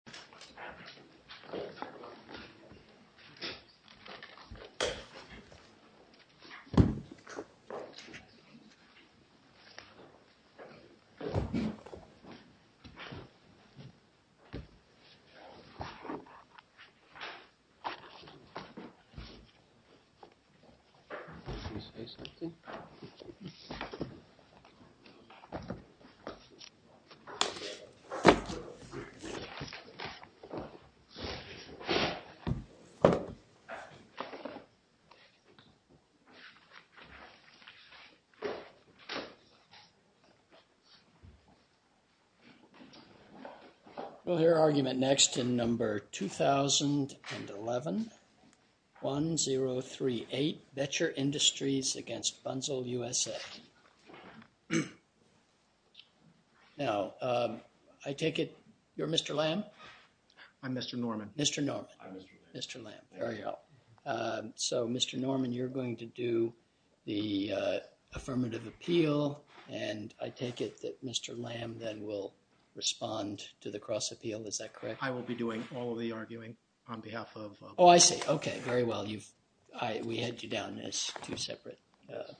Inauguration of the Library 2011-1038 Betcher Industries v. Bunzel, U.S.A. Now, I take it you're Mr. Lamb? I'm Mr. Norman. Mr. Norman. I'm Mr. Lamb. Mr. Lamb, there you are. So, Mr. Norman, you're going to do the affirmative appeal and I take it that Mr. Lamb then will respond to the cross-appeal. Is that correct? I will be doing all of the arguing on behalf of... Oh, I see. Okay, very well. You've... I... We had you down as two separate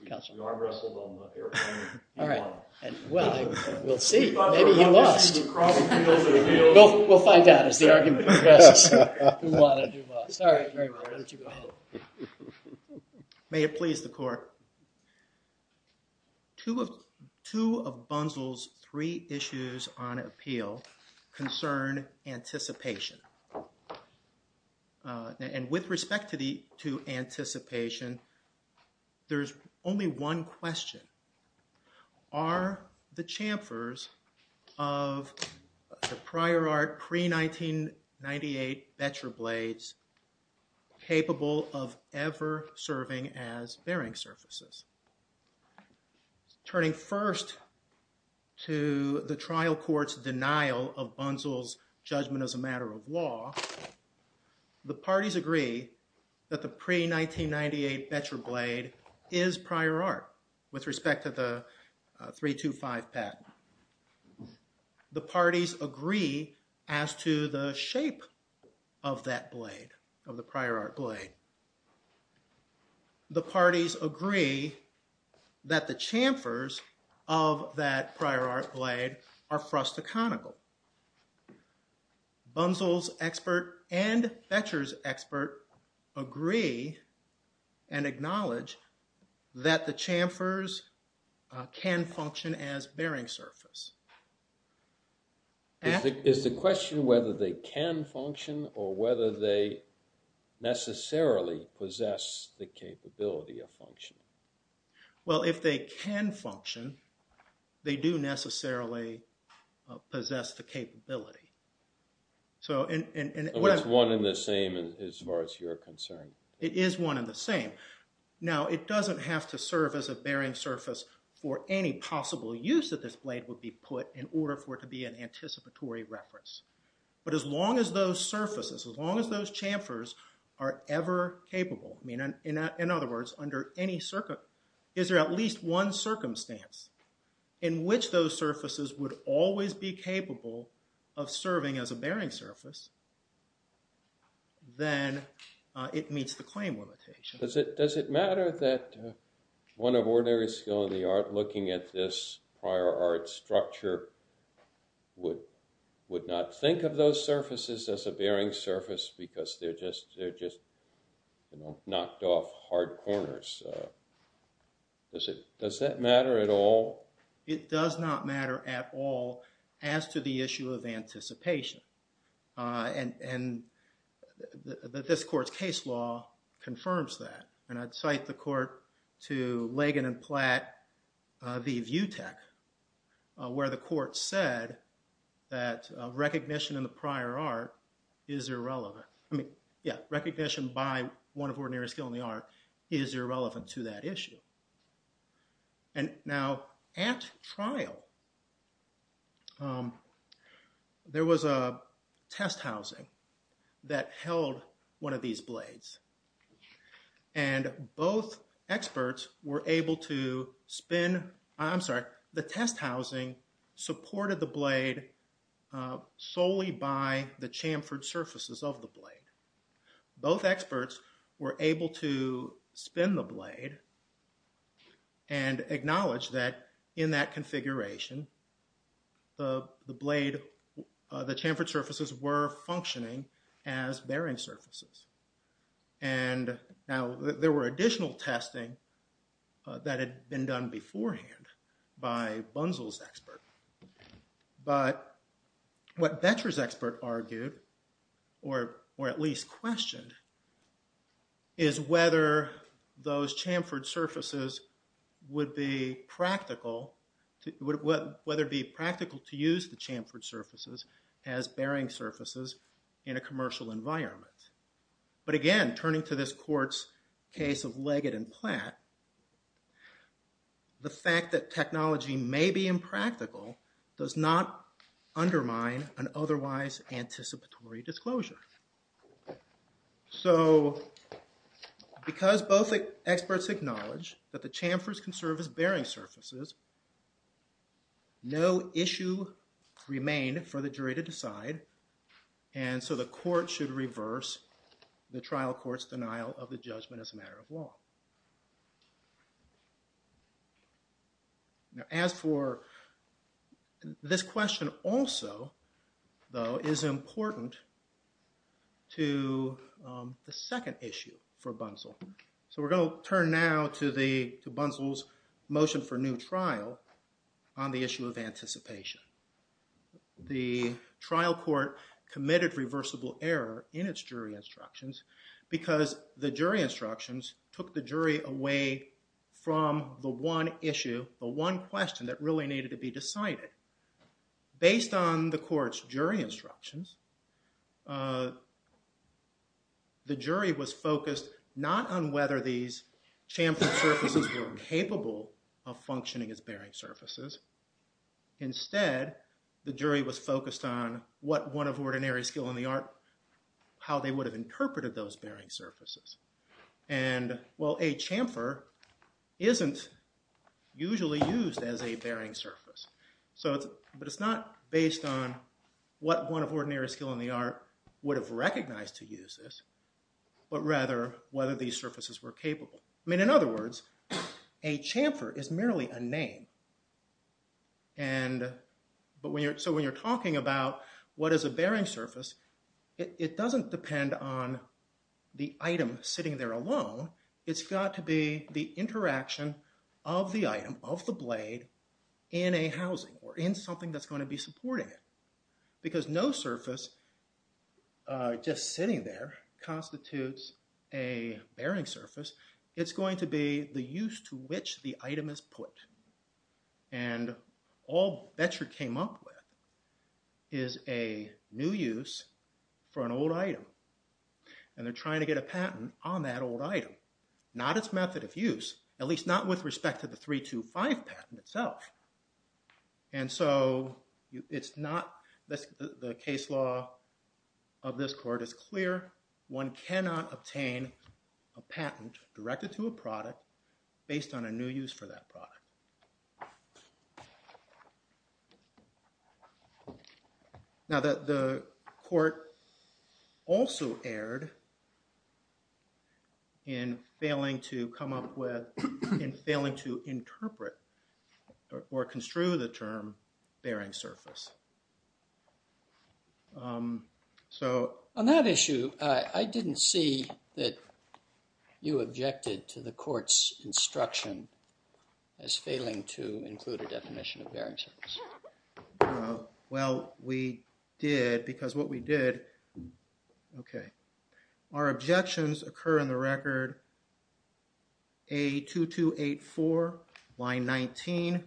counsels. We are wrestled on the air. All right. Well, we'll see. Maybe he lost. We'll find out as the argument progresses. All right, very well. Why don't you go ahead. May it please the court. Two of Bunzel's three issues on appeal concern anticipation. And with respect to anticipation, there's only one question. Are the chamfers of the prior art pre-1998 Betcher blades capable of ever serving as bearing surfaces? Turning first to the trial court's denial of Bunzel's judgment as a matter of law, the parties agree that the pre-1998 Betcher blade is prior art with respect to the 325 patent. The parties agree as to the shape of that blade, of the prior art blade. The parties agree that the chamfers of that prior art blade are frustaconical. Bunzel's expert and Betcher's expert agree and acknowledge that the chamfers can function as bearing surface. Is the question whether they can function or whether they necessarily possess the capability of functioning? Well, if they can function, they do necessarily possess the capability. So it's one in the same as far as you're concerned. It is one in the same. Now, it doesn't have to serve as a bearing surface for any possible use that this blade would be put in order for it to be an anticipatory reference. But as long as those chamfers are ever capable, I mean, in other words, is there at least one circumstance in which those surfaces would always be capable of serving as a bearing surface, then it meets the claim limitation. Does it matter that one of ordinary skill in the art looking at this prior art structure would not think of those surfaces as a bearing surface because they're just knocked off hard corners? Does that matter at all? It does not matter at all as to the issue of anticipation. And this court's case law confirms that. And I'd cite the court to Lagan and Platt v. Vutec where the court said that recognition in the prior art is irrelevant. I mean, yeah, recognition by one of ordinary skill in the art is irrelevant to that issue. And now at trial, there was a test housing that held one of these blades. And both experts were able to spin, I'm sorry, the test housing supported the blade solely by the chamfered surfaces of the blade. Both experts were able to spin the blade and acknowledge that in that configuration, the chamfered surfaces were functioning as bearing surfaces. And now there were additional testing that had been done beforehand by Bunzel's expert. But what Boettcher's expert argued or at least questioned is whether those chamfered surfaces would be practical to use the chamfered surfaces as bearing surfaces in a commercial environment. But again, turning to this court's case of Lagan and Platt, the fact that technology may be impractical does not undermine an otherwise anticipatory disclosure. So because both experts acknowledge that the chamfers can serve as bearing surfaces, no issue remained for the jury to decide. And so the court should reverse the trial court's denial of the judgment as a matter of law. Now as for this question also, though, is important to the second issue for Bunzel. So we're going to turn now to Bunzel's motion for new trial on the issue of anticipation. The trial court committed reversible error in its jury instructions because the jury instructions took the jury away from the one issue, the one question that really needed to be decided. Based on the court's jury instructions, the jury was focused not on whether these the jury was focused on what one of ordinary skill in the art, how they would have interpreted those bearing surfaces. And, well, a chamfer isn't usually used as a bearing surface. But it's not based on what one of ordinary skill in the art would have recognized to use this, but rather whether these surfaces were capable. I mean, in other words, a chamfer is merely a name. And so when you're talking about what is a bearing surface, it doesn't depend on the item sitting there alone. It's got to be the interaction of the item, of the blade, in a housing or in something that's going to be supporting it. Because no surface just sitting there constitutes a bearing surface. It's going to be the use to which the item is put. And all Bechert came up with is a new use for an old item. And they're trying to get a patent on that old item, not its method of use, at least not with respect to the 325 patent itself. And so it's not, the case law of this court is clear. One cannot obtain a patent directed to a product based on a new use for that product. Now that the court also erred in failing to come up with, in failing to interpret or construe the term bearing surface. So on that issue, I didn't see that you objected to the court's instruction as failing to include a definition of bearing surface. Well, we did, because what we did, okay. Our objections occur in the record A2284, line 19,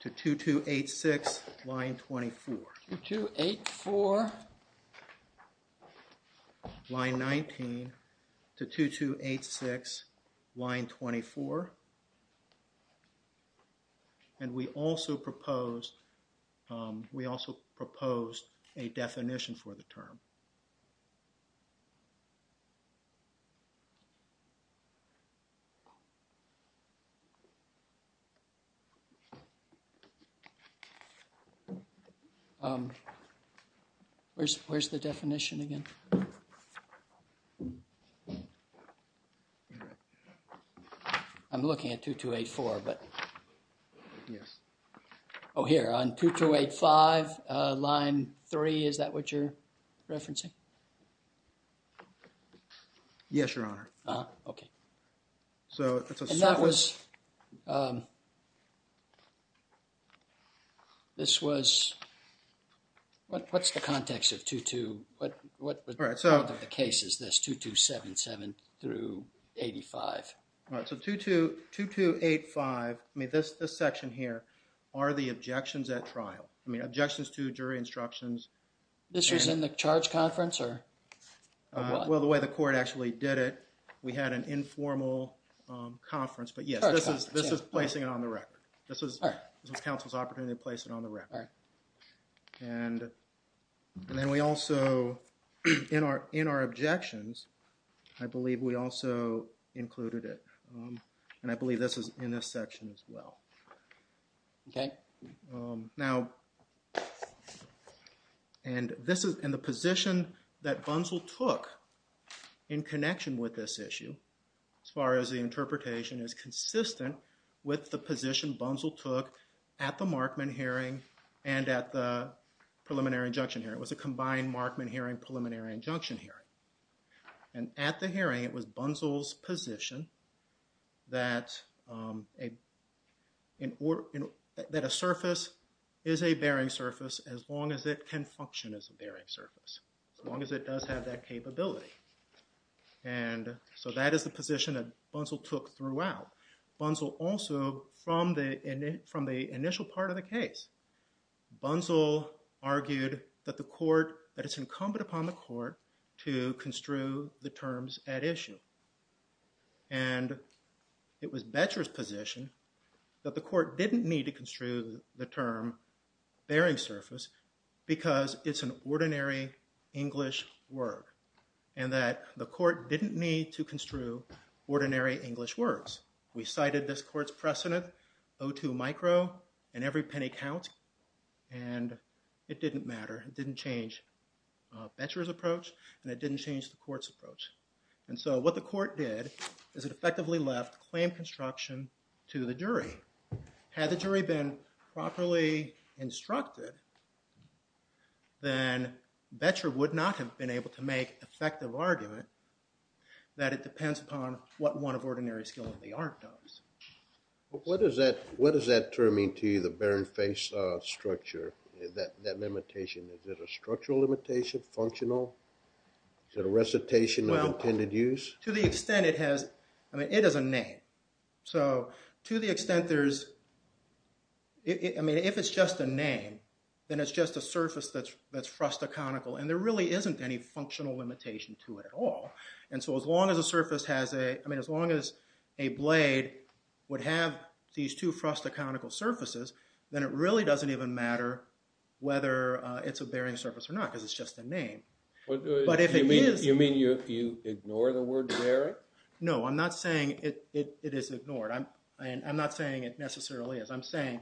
to 2286, line 24. Line 19 to 2286, line 24. And we also proposed, we also proposed a definition for the term. Where's the definition again? I'm looking at 2284, but, yes. Oh, here on 2285, line 3, is that what you're referencing? Yes, your honor. Okay. So that was, this was, what's the context of 22, what part of the case is this, 2277 through 85? All right, so 2285, I mean, this section here are the objections at trial. I mean, objections to jury instructions. This was in the charge conference or? Well, the way the court actually did it, we had an informal conference, but yes, this is, this is placing it on the record. This was counsel's opportunity to place it on the record. And then we also, in our, in our objections, I believe we also included it. And I believe this is in this section as well. Okay. Now, and this is, and the position that Bunzel took in connection with this issue, as far as the interpretation, is consistent with the position Bunzel took at the Markman hearing and at the preliminary injunction hearing. It was a combined Markman hearing, preliminary injunction hearing. And at the hearing, it was Bunzel's position that a, surface is a bearing surface as long as it can function as a bearing surface, as long as it does have that capability. And so that is the position that Bunzel took throughout. Bunzel also, from the, from the initial part of the case, Bunzel argued that the court, that it's incumbent upon the court to construe the terms at issue. And it was Becher's position that the court didn't need to construe the term bearing surface because it's an ordinary English word and that the court didn't need to construe ordinary English words. We cited this court's precedent, O2 micro and every penny counts. And it didn't matter. It didn't change Becher's approach and it didn't change the court's approach. And so what the court did is it effectively left claim construction to the jury. Had the jury been properly instructed, then Becher would not have been able to make effective argument that it depends upon what one of ordinary skill in the art does. What does that, what does that term mean to you, the bearing face structure, that limitation? Is it a structural limitation, functional? Is it a recitation of intended use? Well, to the extent it has, I mean, it is a name. So to the extent there's, I mean, if it's just a name, then it's just a surface that's, that's frustaconical. And there really isn't any functional limitation to it at all. And so as long as the surface has a, I mean, as long as a blade would have these two frustaconical surfaces, then it really doesn't even matter whether it's a bearing surface or not because it's just a name. But if it is... You mean you ignore the word bearing? No, I'm not saying it is ignored. I'm not saying it necessarily is. I'm saying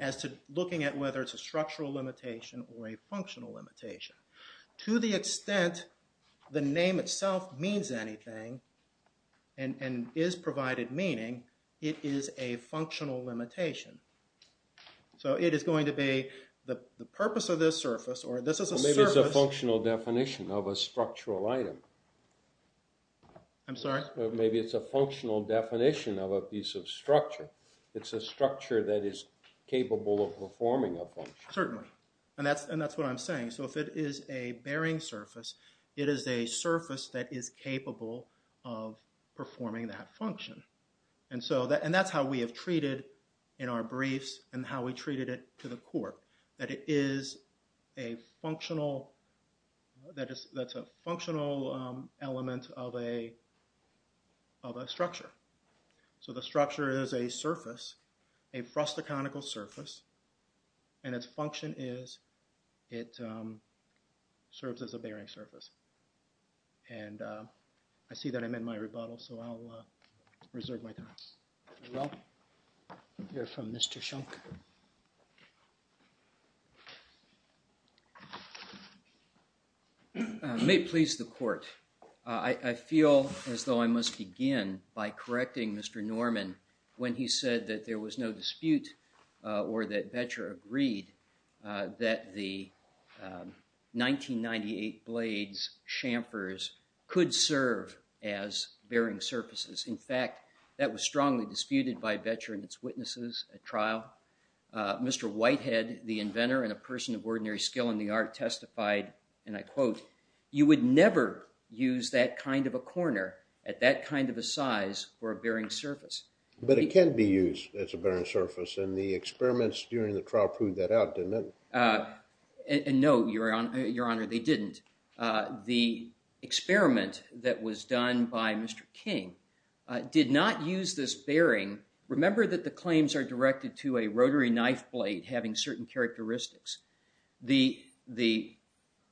as to looking at whether it's a structural limitation or a functional limitation. To the extent the name itself means anything and is provided meaning, it is a functional limitation. So it is going to be the purpose of this surface or this is a surface. Maybe it's a functional definition of a structural item. I'm sorry? Maybe it's a functional definition of a piece of structure. It's a structure that is capable of performing a function. Certainly. And that's what I'm saying. So if it is a bearing surface, it is a surface that is capable of performing that function. And so, and that's we have treated in our briefs and how we treated it to the core. That it is a functional, that's a functional element of a structure. So the structure is a surface, a frustaconical surface, and its function is it serves as a bearing surface. And I see that I'm in my rebuttal, so I'll reserve my thoughts. We'll hear from Mr. Schunk. May it please the court. I feel as though I must begin by correcting Mr. Norman when he said that there was no dispute or that Boettcher agreed that the 1998 Blades chamfers could serve as bearing surfaces. In fact, that was strongly disputed by Boettcher and its witnesses at trial. Mr. Whitehead, the inventor and a person of ordinary skill in the art testified, and I quote, you would never use that kind of a corner at that kind of a size for a bearing surface. But it can be used as a bearing surface, and the experiments during the trial proved that out, didn't it? And no, Your Honor, they didn't. The experiment that was done by Mr. King did not use this bearing. Remember that the claims are directed to a rotary knife blade having certain characteristics. The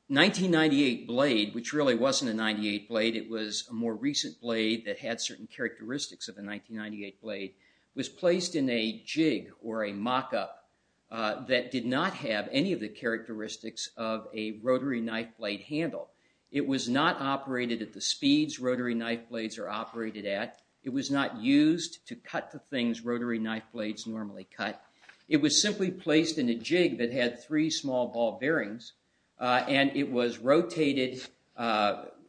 1998 blade, which really wasn't a 98 blade, it was a more recent blade that had certain characteristics of a 1998 blade, was placed in a jig or a mock-up that did not have any of the characteristics of a rotary knife blade handle. It was not operated at the speeds rotary knife blades are operated at. It was not used to cut the things rotary knife blades normally cut. It was simply placed in a jig that had three small ball bearings, and it was rotated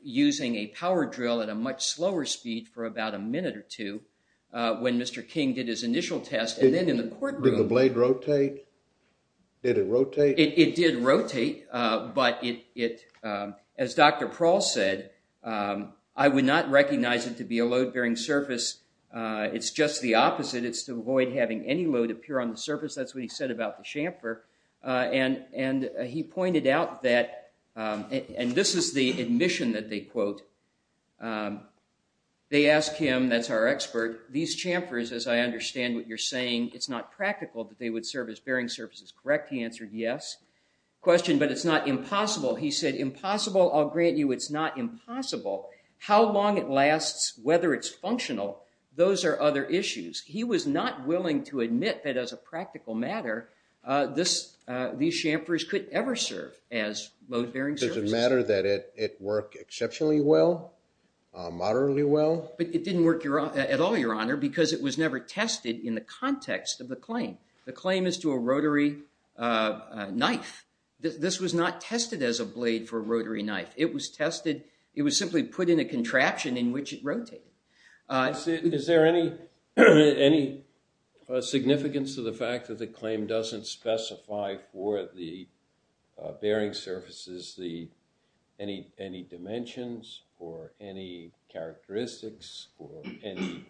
using a power drill at a much slower speed for about a minute or two when Mr. King did his initial test. Did the blade rotate? Did it rotate? It did rotate, but as Dr. Prowl said, I would not recognize it to be a load-bearing surface. It's just the opposite. It's to avoid having any load appear on the surface. That's what he said about the chamfer, and he pointed out that, and this is the admission that they quote, they asked him, that's our expert, these chamfers, as I understand what you're saying, it's not practical that they would serve as bearing surfaces, correct? He answered, yes. Question, but it's not impossible. He said, impossible? I'll grant you it's not impossible. How long it lasts, whether it's functional, those are other issues. He was not willing to admit that as a practical matter, these chamfers could ever serve as load-bearing surfaces. Does it matter that it worked exceptionally well, moderately well? But it didn't work at all, your honor, because it was never tested in the context of the claim. The claim is to a rotary knife. This was not tested as a blade for a rotary knife. It was tested, it was simply put in a contraption in which it rotated. Is there any significance to the fact that the claim doesn't specify for the bearing surfaces any dimensions, or any characteristics, or any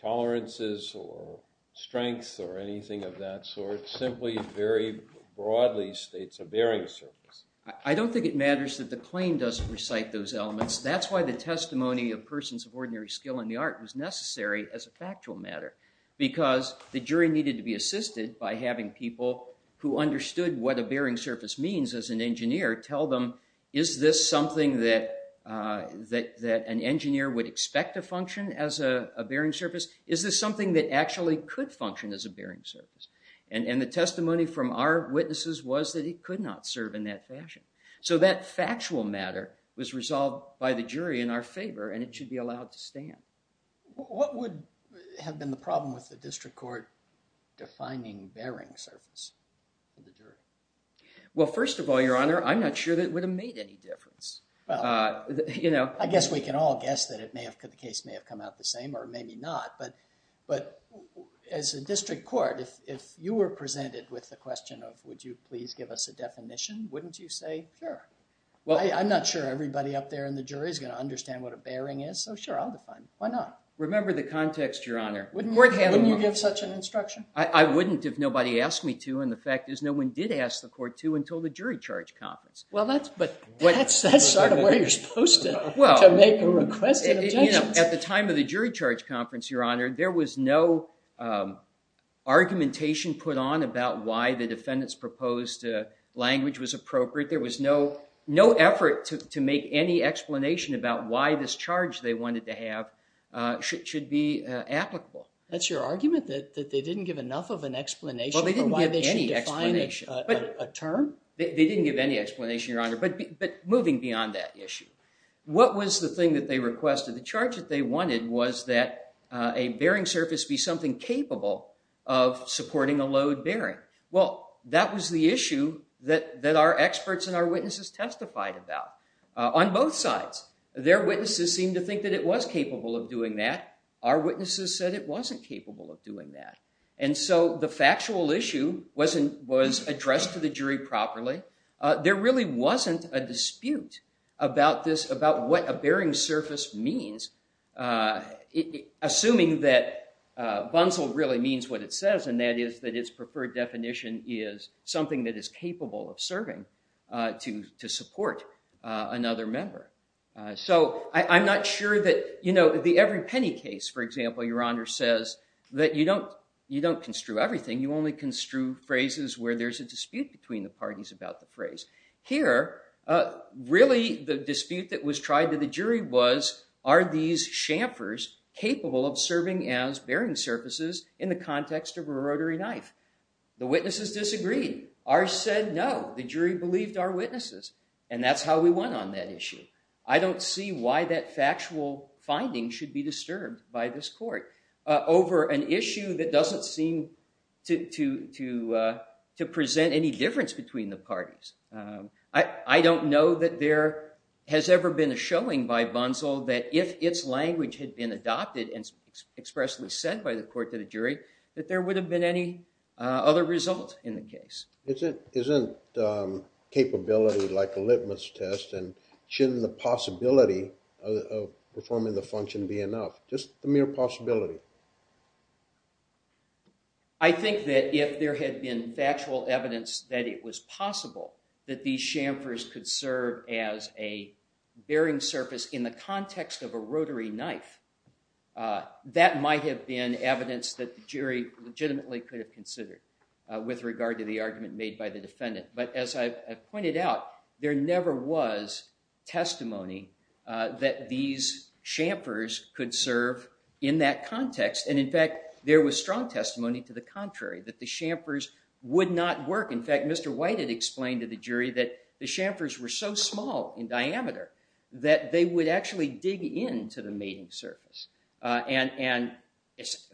tolerances, or strengths, or anything of that sort, simply very broadly states a bearing surface? I don't think it matters that the claim doesn't recite those elements. That's why the testimony of persons of ordinary skill in the art was necessary as a factual matter, because the jury needed to be assisted by having people who understood what a bearing surface means as an engineer tell them, is this something that an engineer would expect to function as a bearing surface? Is this something that actually could function as a bearing surface? And the testimony from our witnesses was that it could not serve in that fashion. So that factual matter was resolved by the jury in our favor, and it should be allowed to stand. What would have been the problem with the district court defining bearing surface for the jury? Well, first of all, your honor, I'm not sure that would have made any difference. I guess we can all guess that the case may have come out the same, or maybe not, but as a district court, if you were presented with the question of, would you please give us a definition, wouldn't you say, sure? Well, I'm not sure everybody up there in the jury is going to understand what a bearing is, so sure, I'll define it. Why not? Remember the context, your honor. Wouldn't you give such an instruction? I wouldn't if nobody asked me to, and the fact is no one did ask the court to until the jury charge conference. Well, that's sort of where you're supposed to make a request. At the time of the jury charge conference, your honor, there was no argumentation put on about why the defendant's proposed language was appropriate. There was no effort to make any explanation about why this charge they wanted to have should be applicable. That's your argument, that they didn't give enough of an explanation for why they should define a term? They didn't give any explanation, your honor, but moving beyond that issue, what was the thing that they requested? The charge that they wanted was that a bearing surface be something capable of supporting a load bearing. Well, that was the issue that our experts and our witnesses testified about on both sides. Their witnesses seemed to think that it was capable of doing that. Our witnesses said it wasn't capable of doing that, and so the factual issue was addressed to the jury properly. There really wasn't a dispute about this, about what a bearing surface means, assuming that Bunsell really means what it says, and that is that its preferred definition is something that is capable of serving to support another member. So I'm not sure that, you know, the every penny case, for example, your honor, says that you don't construe everything. You only construe phrases where there's a dispute between the parties about the phrase. Here, really the dispute that was tried to the jury was, are these chamfers capable of serving as bearing surfaces in the context of a rotary knife? The witnesses disagreed. Ours said no. The jury believed our witnesses, and that's how we went on that issue. I don't see why that factual finding should be disturbed by this court over an issue that doesn't seem to present any difference between the parties. I don't know that there has ever been a showing by Bunsell that if its language had been adopted and expressly said by the court to the jury, that there would have been any other result in the case. Isn't capability like a litmus test, and shouldn't the possibility of performing the function be enough? Just the mere possibility. I think that if there had been factual evidence that it was possible that these chamfers could serve as a bearing surface in the context of a rotary knife, that might have been evidence that the jury legitimately could have considered with regard to the argument made by the defendant. But as I've pointed out, there never was testimony that these chamfers could serve in that context. And in fact, there was strong testimony to the contrary, that the chamfers would not work. In fact, Mr. White had explained to the jury that the chamfers were so small in diameter that they would actually dig into the mating surface and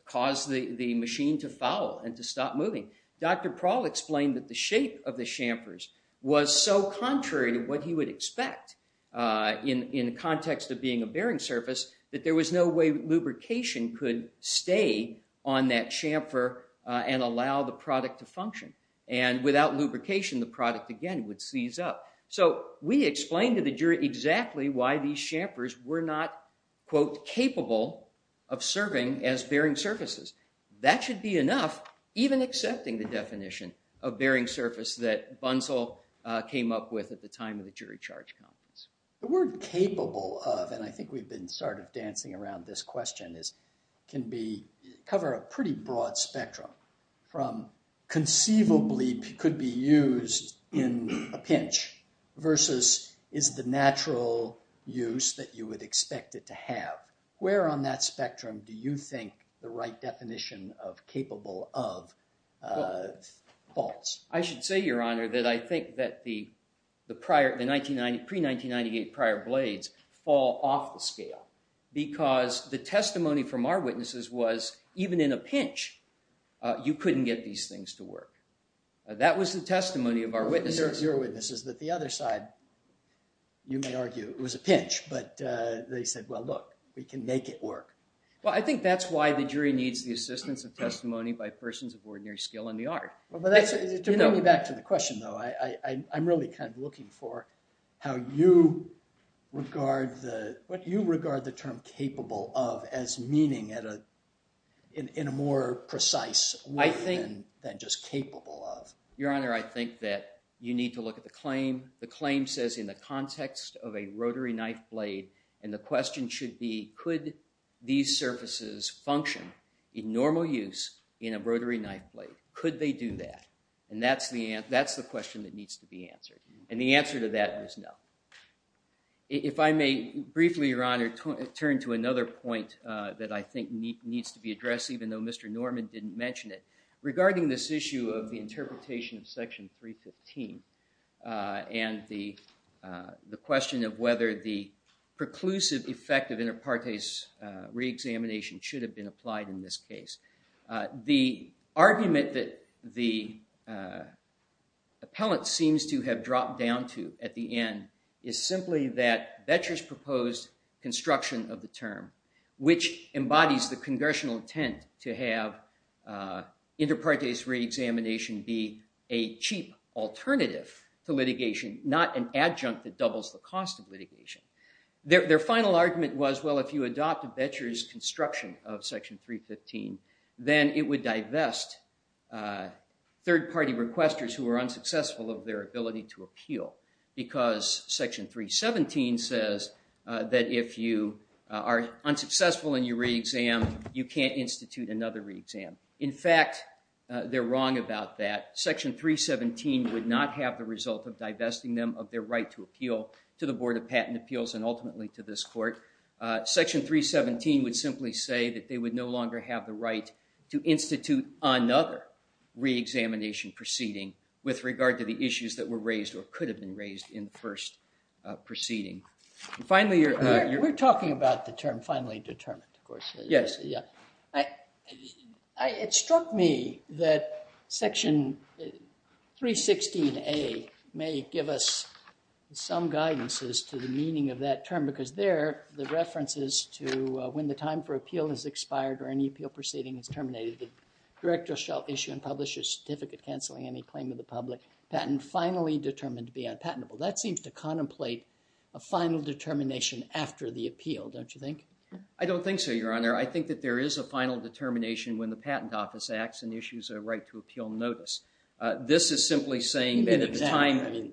cause the machine to foul and to stop moving. Dr. Prowl explained that the shape of the chamfers was so contrary to what he would expect in the context of being a bearing surface, that there was no way lubrication could stay on that chamfer and allow the product to function. And without lubrication, the product again would seize up. So we explained to the jury exactly why these chamfers were not, quote, capable of serving as bearing surfaces. That should be enough, even accepting the definition of bearing surface that Bunsell came up with at the time of the jury charge conference. The word capable of, and I think we've been sort of dancing around this question, can cover a pretty broad spectrum from conceivably could be used in a pinch versus is the natural use that you would expect it to have. Where on that spectrum do you think the right definition of capable of falls? I should say, your honor, that I think that the pre-1998 prior blades fall off the scale because the testimony from our witnesses was, even in a pinch, you couldn't get these things to work. That was the testimony of our witnesses. Your witnesses that the other side, you may argue it was a pinch, but they said, well, look, we can make it work. Well, I think that's why the jury needs the assistance of testimony by persons of ordinary skill in the art. To bring me back to the question though, I'm really kind of looking for how you regard the term capable of as meaning in a more precise way than just capable of. Your honor, I think that you need to look at the claim. The claim says in the context of a rotary knife blade. And the question should be, could these surfaces function in normal use in a rotary knife blade? Could they do that? And that's the question that needs to be answered. And the answer to that is no. If I may briefly, your honor, turn to another point that I think needs to be addressed, even though Mr. Norman didn't mention it. Regarding this issue of the question of whether the preclusive effect of inter partes reexamination should have been applied in this case. The argument that the appellant seems to have dropped down to at the end is simply that Vetcher's proposed construction of the term, which embodies the congressional intent to have inter partes reexamination be a cheap alternative to litigation, not an adjunct that costs litigation. Their final argument was, well, if you adopt Vetcher's construction of section 315, then it would divest third party requesters who are unsuccessful of their ability to appeal. Because section 317 says that if you are unsuccessful in your reexam, you can't institute another reexam. In fact, they're wrong about that. Section 317 would not have the result of divesting them of their right to appeal to the Board of Patent Appeals and ultimately to this court. Section 317 would simply say that they would no longer have the right to institute another reexamination proceeding with regard to the issues that were raised or could have been raised in the first proceeding. We're talking about the term finally determined, of course. Yes. It struck me that section 316A may give us some guidance as to the meaning of that term because there, the reference is to when the time for appeal has expired or any appeal proceeding is terminated, the director shall issue and publish a certificate canceling any claim of the public patent finally determined to be unpatentable. That seems to contemplate a final determination after the appeal, don't you think? I don't think so, Your Honor. I think that there is a final determination when the Patent Office acts and issues a right to appeal notice. This is simply saying that at the time,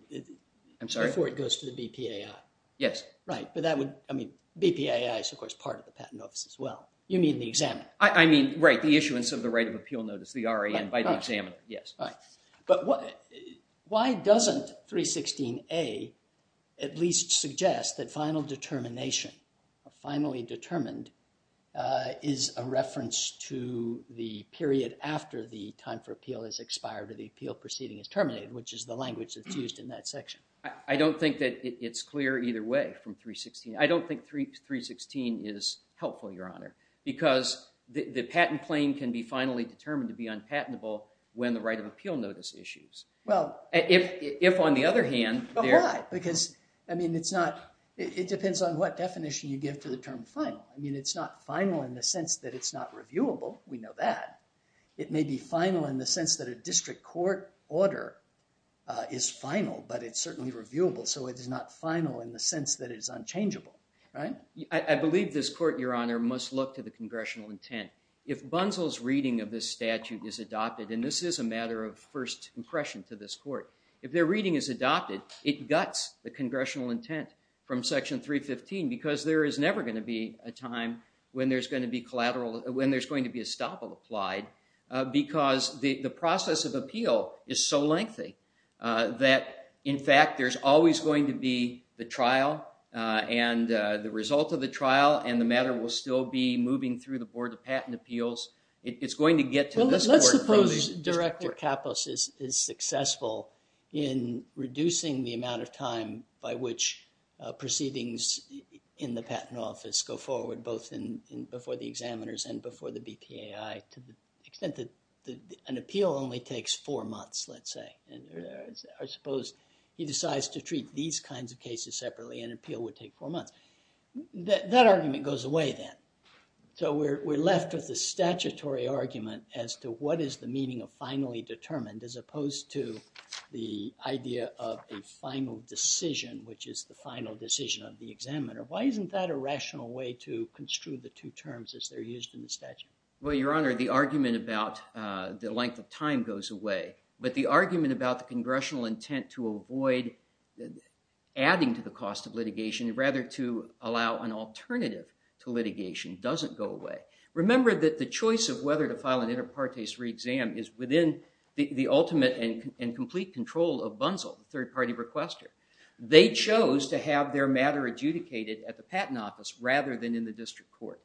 I'm sorry, before it goes to the BPAI. Yes. Right. But that would, I mean, BPAI is, of course, part of the Patent Office as well. You mean the examiner? I mean, right, the issuance of the right of appeal notice, the RAN, by the examiner. Yes. Right. But why doesn't 316A at least suggest that final determination, finally determined, is a reference to the period after the time for appeal has expired or the appeal proceeding is terminated, which is the language that's used in that section? I don't think that it's clear either way from 316. I don't think 316 is helpful, Your Honor, because the patent claim can be finally determined to be unpatentable when the right of appeal notice issues. Well. If, on the other hand. But why? Because, I mean, it's not, it depends on what definition you give to the term final. I mean, it's not final in the sense that it's not reviewable. We know that. It may be final in the sense that a district court order is final, but it's certainly reviewable. So it is not final in the sense that it is unchangeable, right? I believe this Court, Your Honor, must look to congressional intent. If Bunsell's reading of this statute is adopted, and this is a matter of first impression to this Court, if their reading is adopted, it guts the congressional intent from Section 315 because there is never going to be a time when there's going to be collateral, when there's going to be a stoppal applied, because the process of appeal is so lengthy that, in fact, there's always going to be the trial and the result of the trial and the matter will still be moving through the Board of Patent Appeals. It's going to get to this Court. Well, let's suppose Director Kapos is successful in reducing the amount of time by which proceedings in the Patent Office go forward, both before the examiners and before the BPAI, to the extent that an appeal only takes four months, let's say. I suppose he decides to treat these kinds of cases separately, an appeal would take four months. That argument goes away then. So we're left with the statutory argument as to what is the meaning of finally determined, as opposed to the idea of a final decision, which is the final decision of the examiner. Why isn't that a rational way to construe the two terms as they're used in the statute? Well, Your Honor, the argument about the length of time goes away, but the argument about the adding to the cost of litigation, rather to allow an alternative to litigation, doesn't go away. Remember that the choice of whether to file an inter partes re-exam is within the ultimate and complete control of Bunzel, the third-party requester. They chose to have their matter adjudicated at the Patent Office rather than in the District Court,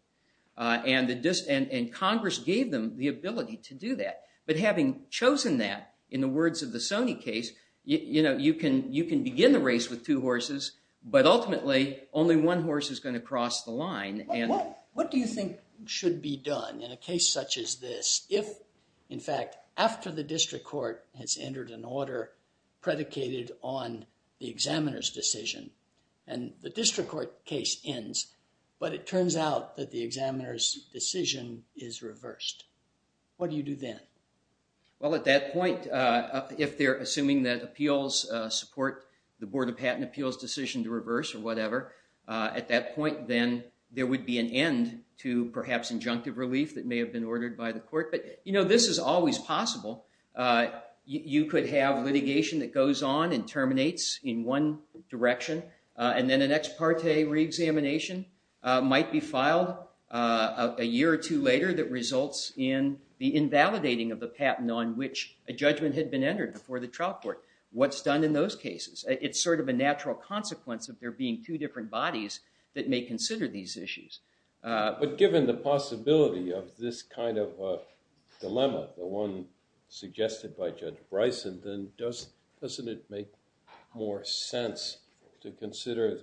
and Congress gave them the ability to do that. But having chosen that, in the words of the Sony case, you can begin a race with two horses, but ultimately only one horse is going to cross the line. What do you think should be done in a case such as this, if, in fact, after the District Court has entered an order predicated on the examiner's decision, and the District Court case ends, but it turns out that the examiner's decision is reversed. What do you do then? Well, at that point, if they're assuming that appeals support the Board of Patent Appeals' decision to reverse or whatever, at that point then there would be an end to perhaps injunctive relief that may have been ordered by the court. But, you know, this is always possible. You could have litigation that goes on and terminates in one direction, and then an ex parte re-examination might be filed a year or two later that results in the invalidating of the patent on which a judgment had been entered before the trial court. What's done in those cases? It's sort of a natural consequence of there being two different bodies that may consider these issues. But given the possibility of this kind of dilemma, the one suggested by Judge Bryson, then doesn't it make more sense to consider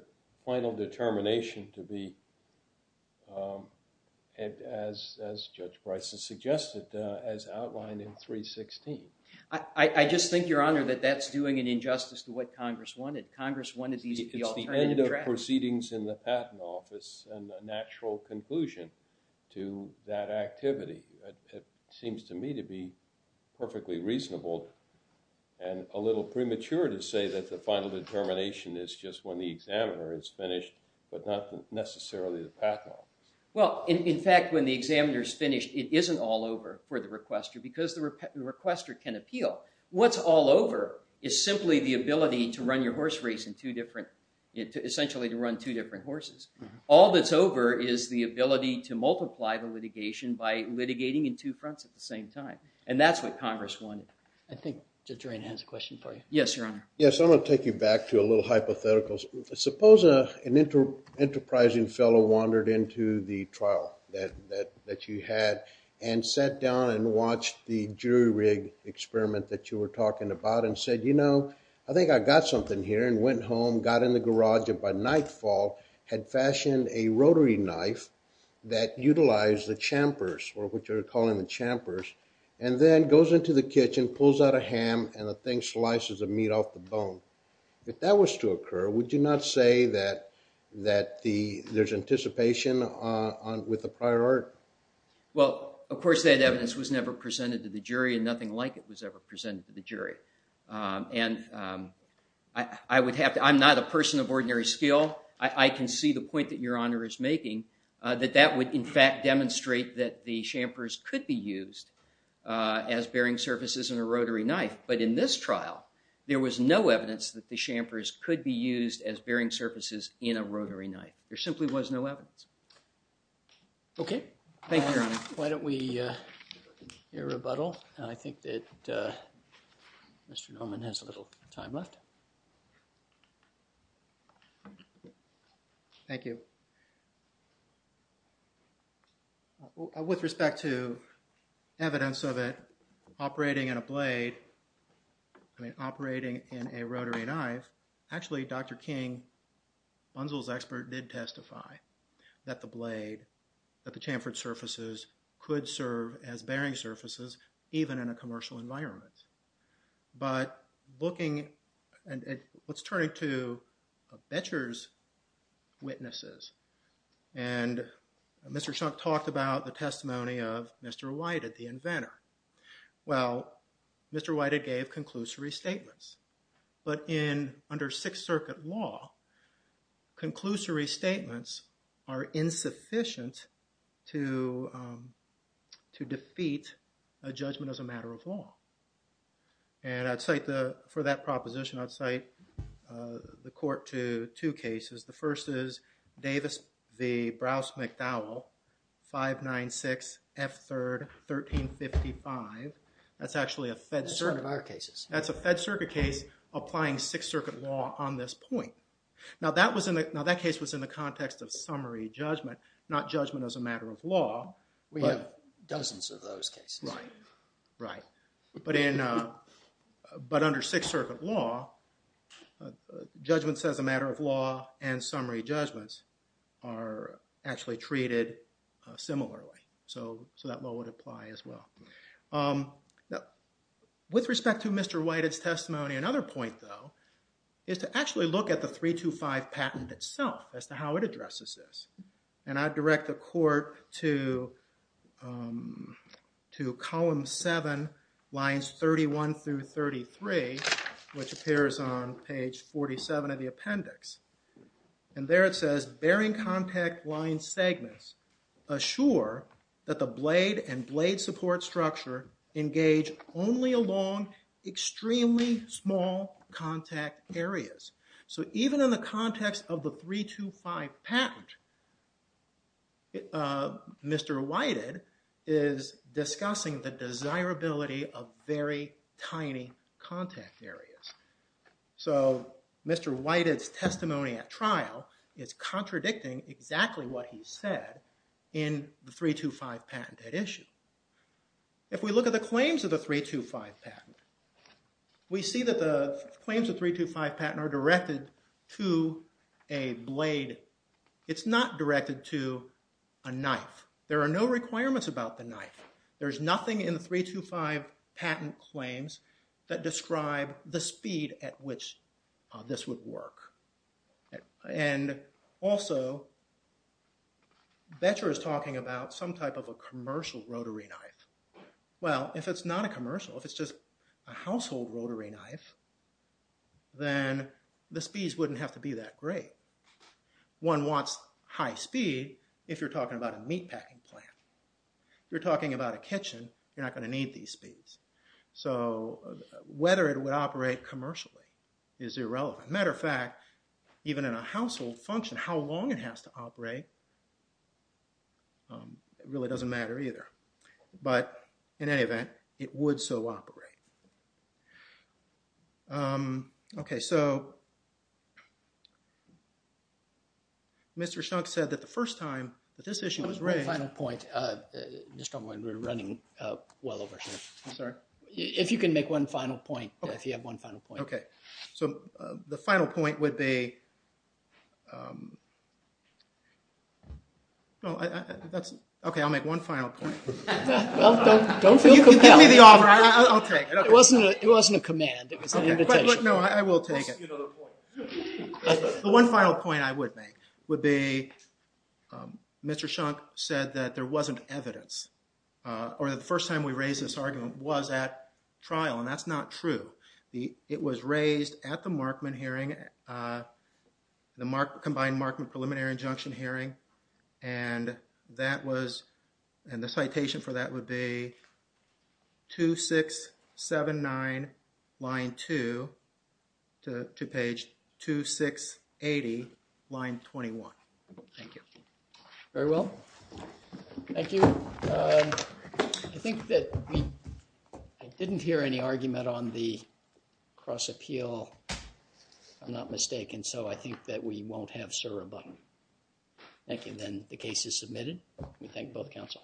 as outlined in 316? I just think, Your Honor, that that's doing an injustice to what Congress wanted. Congress wanted these to be alternative drafts. It's the end of proceedings in the patent office and a natural conclusion to that activity. It seems to me to be perfectly reasonable and a little premature to say that the final determination is just when the examiner is finished, but not necessarily the patent office. Well, in fact, when the examiner's finished, it isn't all over for the requester because the requester can appeal. What's all over is simply the ability to run your horse race in two different, essentially to run two different horses. All that's over is the ability to multiply the litigation by litigating in two fronts at the same time. And that's what Congress wanted. I think Judge Drain has a question for you. Yes, Your Honor. Yes, I'm going to take you back to a little hypothetical. Suppose an enterprising fellow wandered into the trial that you had and sat down and watched the jury rig experiment that you were talking about and said, you know, I think I got something here, and went home, got in the garage, and by nightfall had fashioned a rotary knife that utilized the champers, or what you're calling the champers, and then goes into the kitchen, pulls out a ham, and the thing slices the meat off the bone. If that was to occur, would you not say that there's anticipation with the prior art? Well, of course, that evidence was never presented to the jury, and nothing like it was ever presented to the jury. And I would have to, I'm not a person of ordinary skill. I can see the point that Your Honor is making, that that would, in fact, demonstrate that the trial, there was no evidence that the champers could be used as bearing surfaces in a rotary knife. There simply was no evidence. Okay. Thank you, Your Honor. Why don't we hear a rebuttal? I think that Mr. Noman has a little time left. Thank you. With respect to evidence of it operating in a blade, I mean, operating in a rotary knife, actually, Dr. King, Bunzel's expert, did testify that the blade, that the chamfered surfaces could serve as bearing surfaces, even in a commercial environment. But looking at what's witnesses, and Mr. Shunk talked about the testimony of Mr. Whited, the inventor. Well, Mr. Whited gave conclusory statements. But in, under Sixth Circuit law, conclusory statements are insufficient to defeat a judgment as a matter of law. And I'd cite the, for that proposition, I'd cite, uh, the court to two cases. The first is Davis v. Browse-McDowell, 596 F. 3rd, 1355. That's actually a Fed circuit. That's one of our cases. That's a Fed circuit case applying Sixth Circuit law on this point. Now that was in the, now that case was in the context of summary judgment, not judgment as a matter of law. We have dozens of those cases. Right, right. But in, but under Sixth Circuit law, judgments as a matter of law and summary judgments are actually treated similarly. So, so that law would apply as well. Now, with respect to Mr. Whited's testimony, another point, though, is to actually look at the 325 patent itself, as to how it addresses this. And I'd direct the court to, um, to column seven, lines 31 through 33, which appears on page 47 of the appendix. And there it says, bearing contact line segments assure that the blade and blade support structure engage only along extremely small contact areas. So even in the context of the 325 patent, Mr. Whited is discussing the desirability of very tiny contact areas. So Mr. Whited's testimony at trial is contradicting exactly what he said in the 325 patent at issue. If we look at the claims of the 325 patent, we see that the claims of 325 patent are directed to a blade. It's not directed to a knife. There are no requirements about the knife. There's nothing in the 325 patent claims that describe the speed at which this would work. And also, Boettcher is talking about some type of a commercial rotary knife. Well, if it's not a commercial, if it's just a household rotary knife, then the speeds wouldn't have to be that great. One wants high speed if you're talking about a meatpacking plant. You're talking about a kitchen, you're not going to need these speeds. So whether it would operate commercially is irrelevant. Matter of fact, even in a household function, how long it has to operate, it really doesn't matter either. But in any event, it would so operate. Okay, so Mr. Shunk said that the first time that this issue was raised... One final point. Mr. Shunk, we're running well over here. I'm sorry? If you can make one final point, if you have one final point. So the final point would be... Okay, I'll make one final point. Well, don't feel compelled. Give me the honor, I'll take it. It wasn't a command, it was an invitation. No, I will take it. You know the point. The one final point I would make would be, Mr. Shunk said that there wasn't evidence, or the first time we raised this argument was at trial, and that's not true. It was raised at the Markman hearing, the combined Markman preliminary injunction hearing, and that was, and the citation for that would be 2679, line 2, to page 2680, line 21. Thank you. Very well. Thank you. Um, I think that we... I didn't hear any argument on the cross-appeal, if I'm not mistaken, so I think that we won't have SIR or BUTTON. Thank you. Then the case is submitted. We thank both counsel.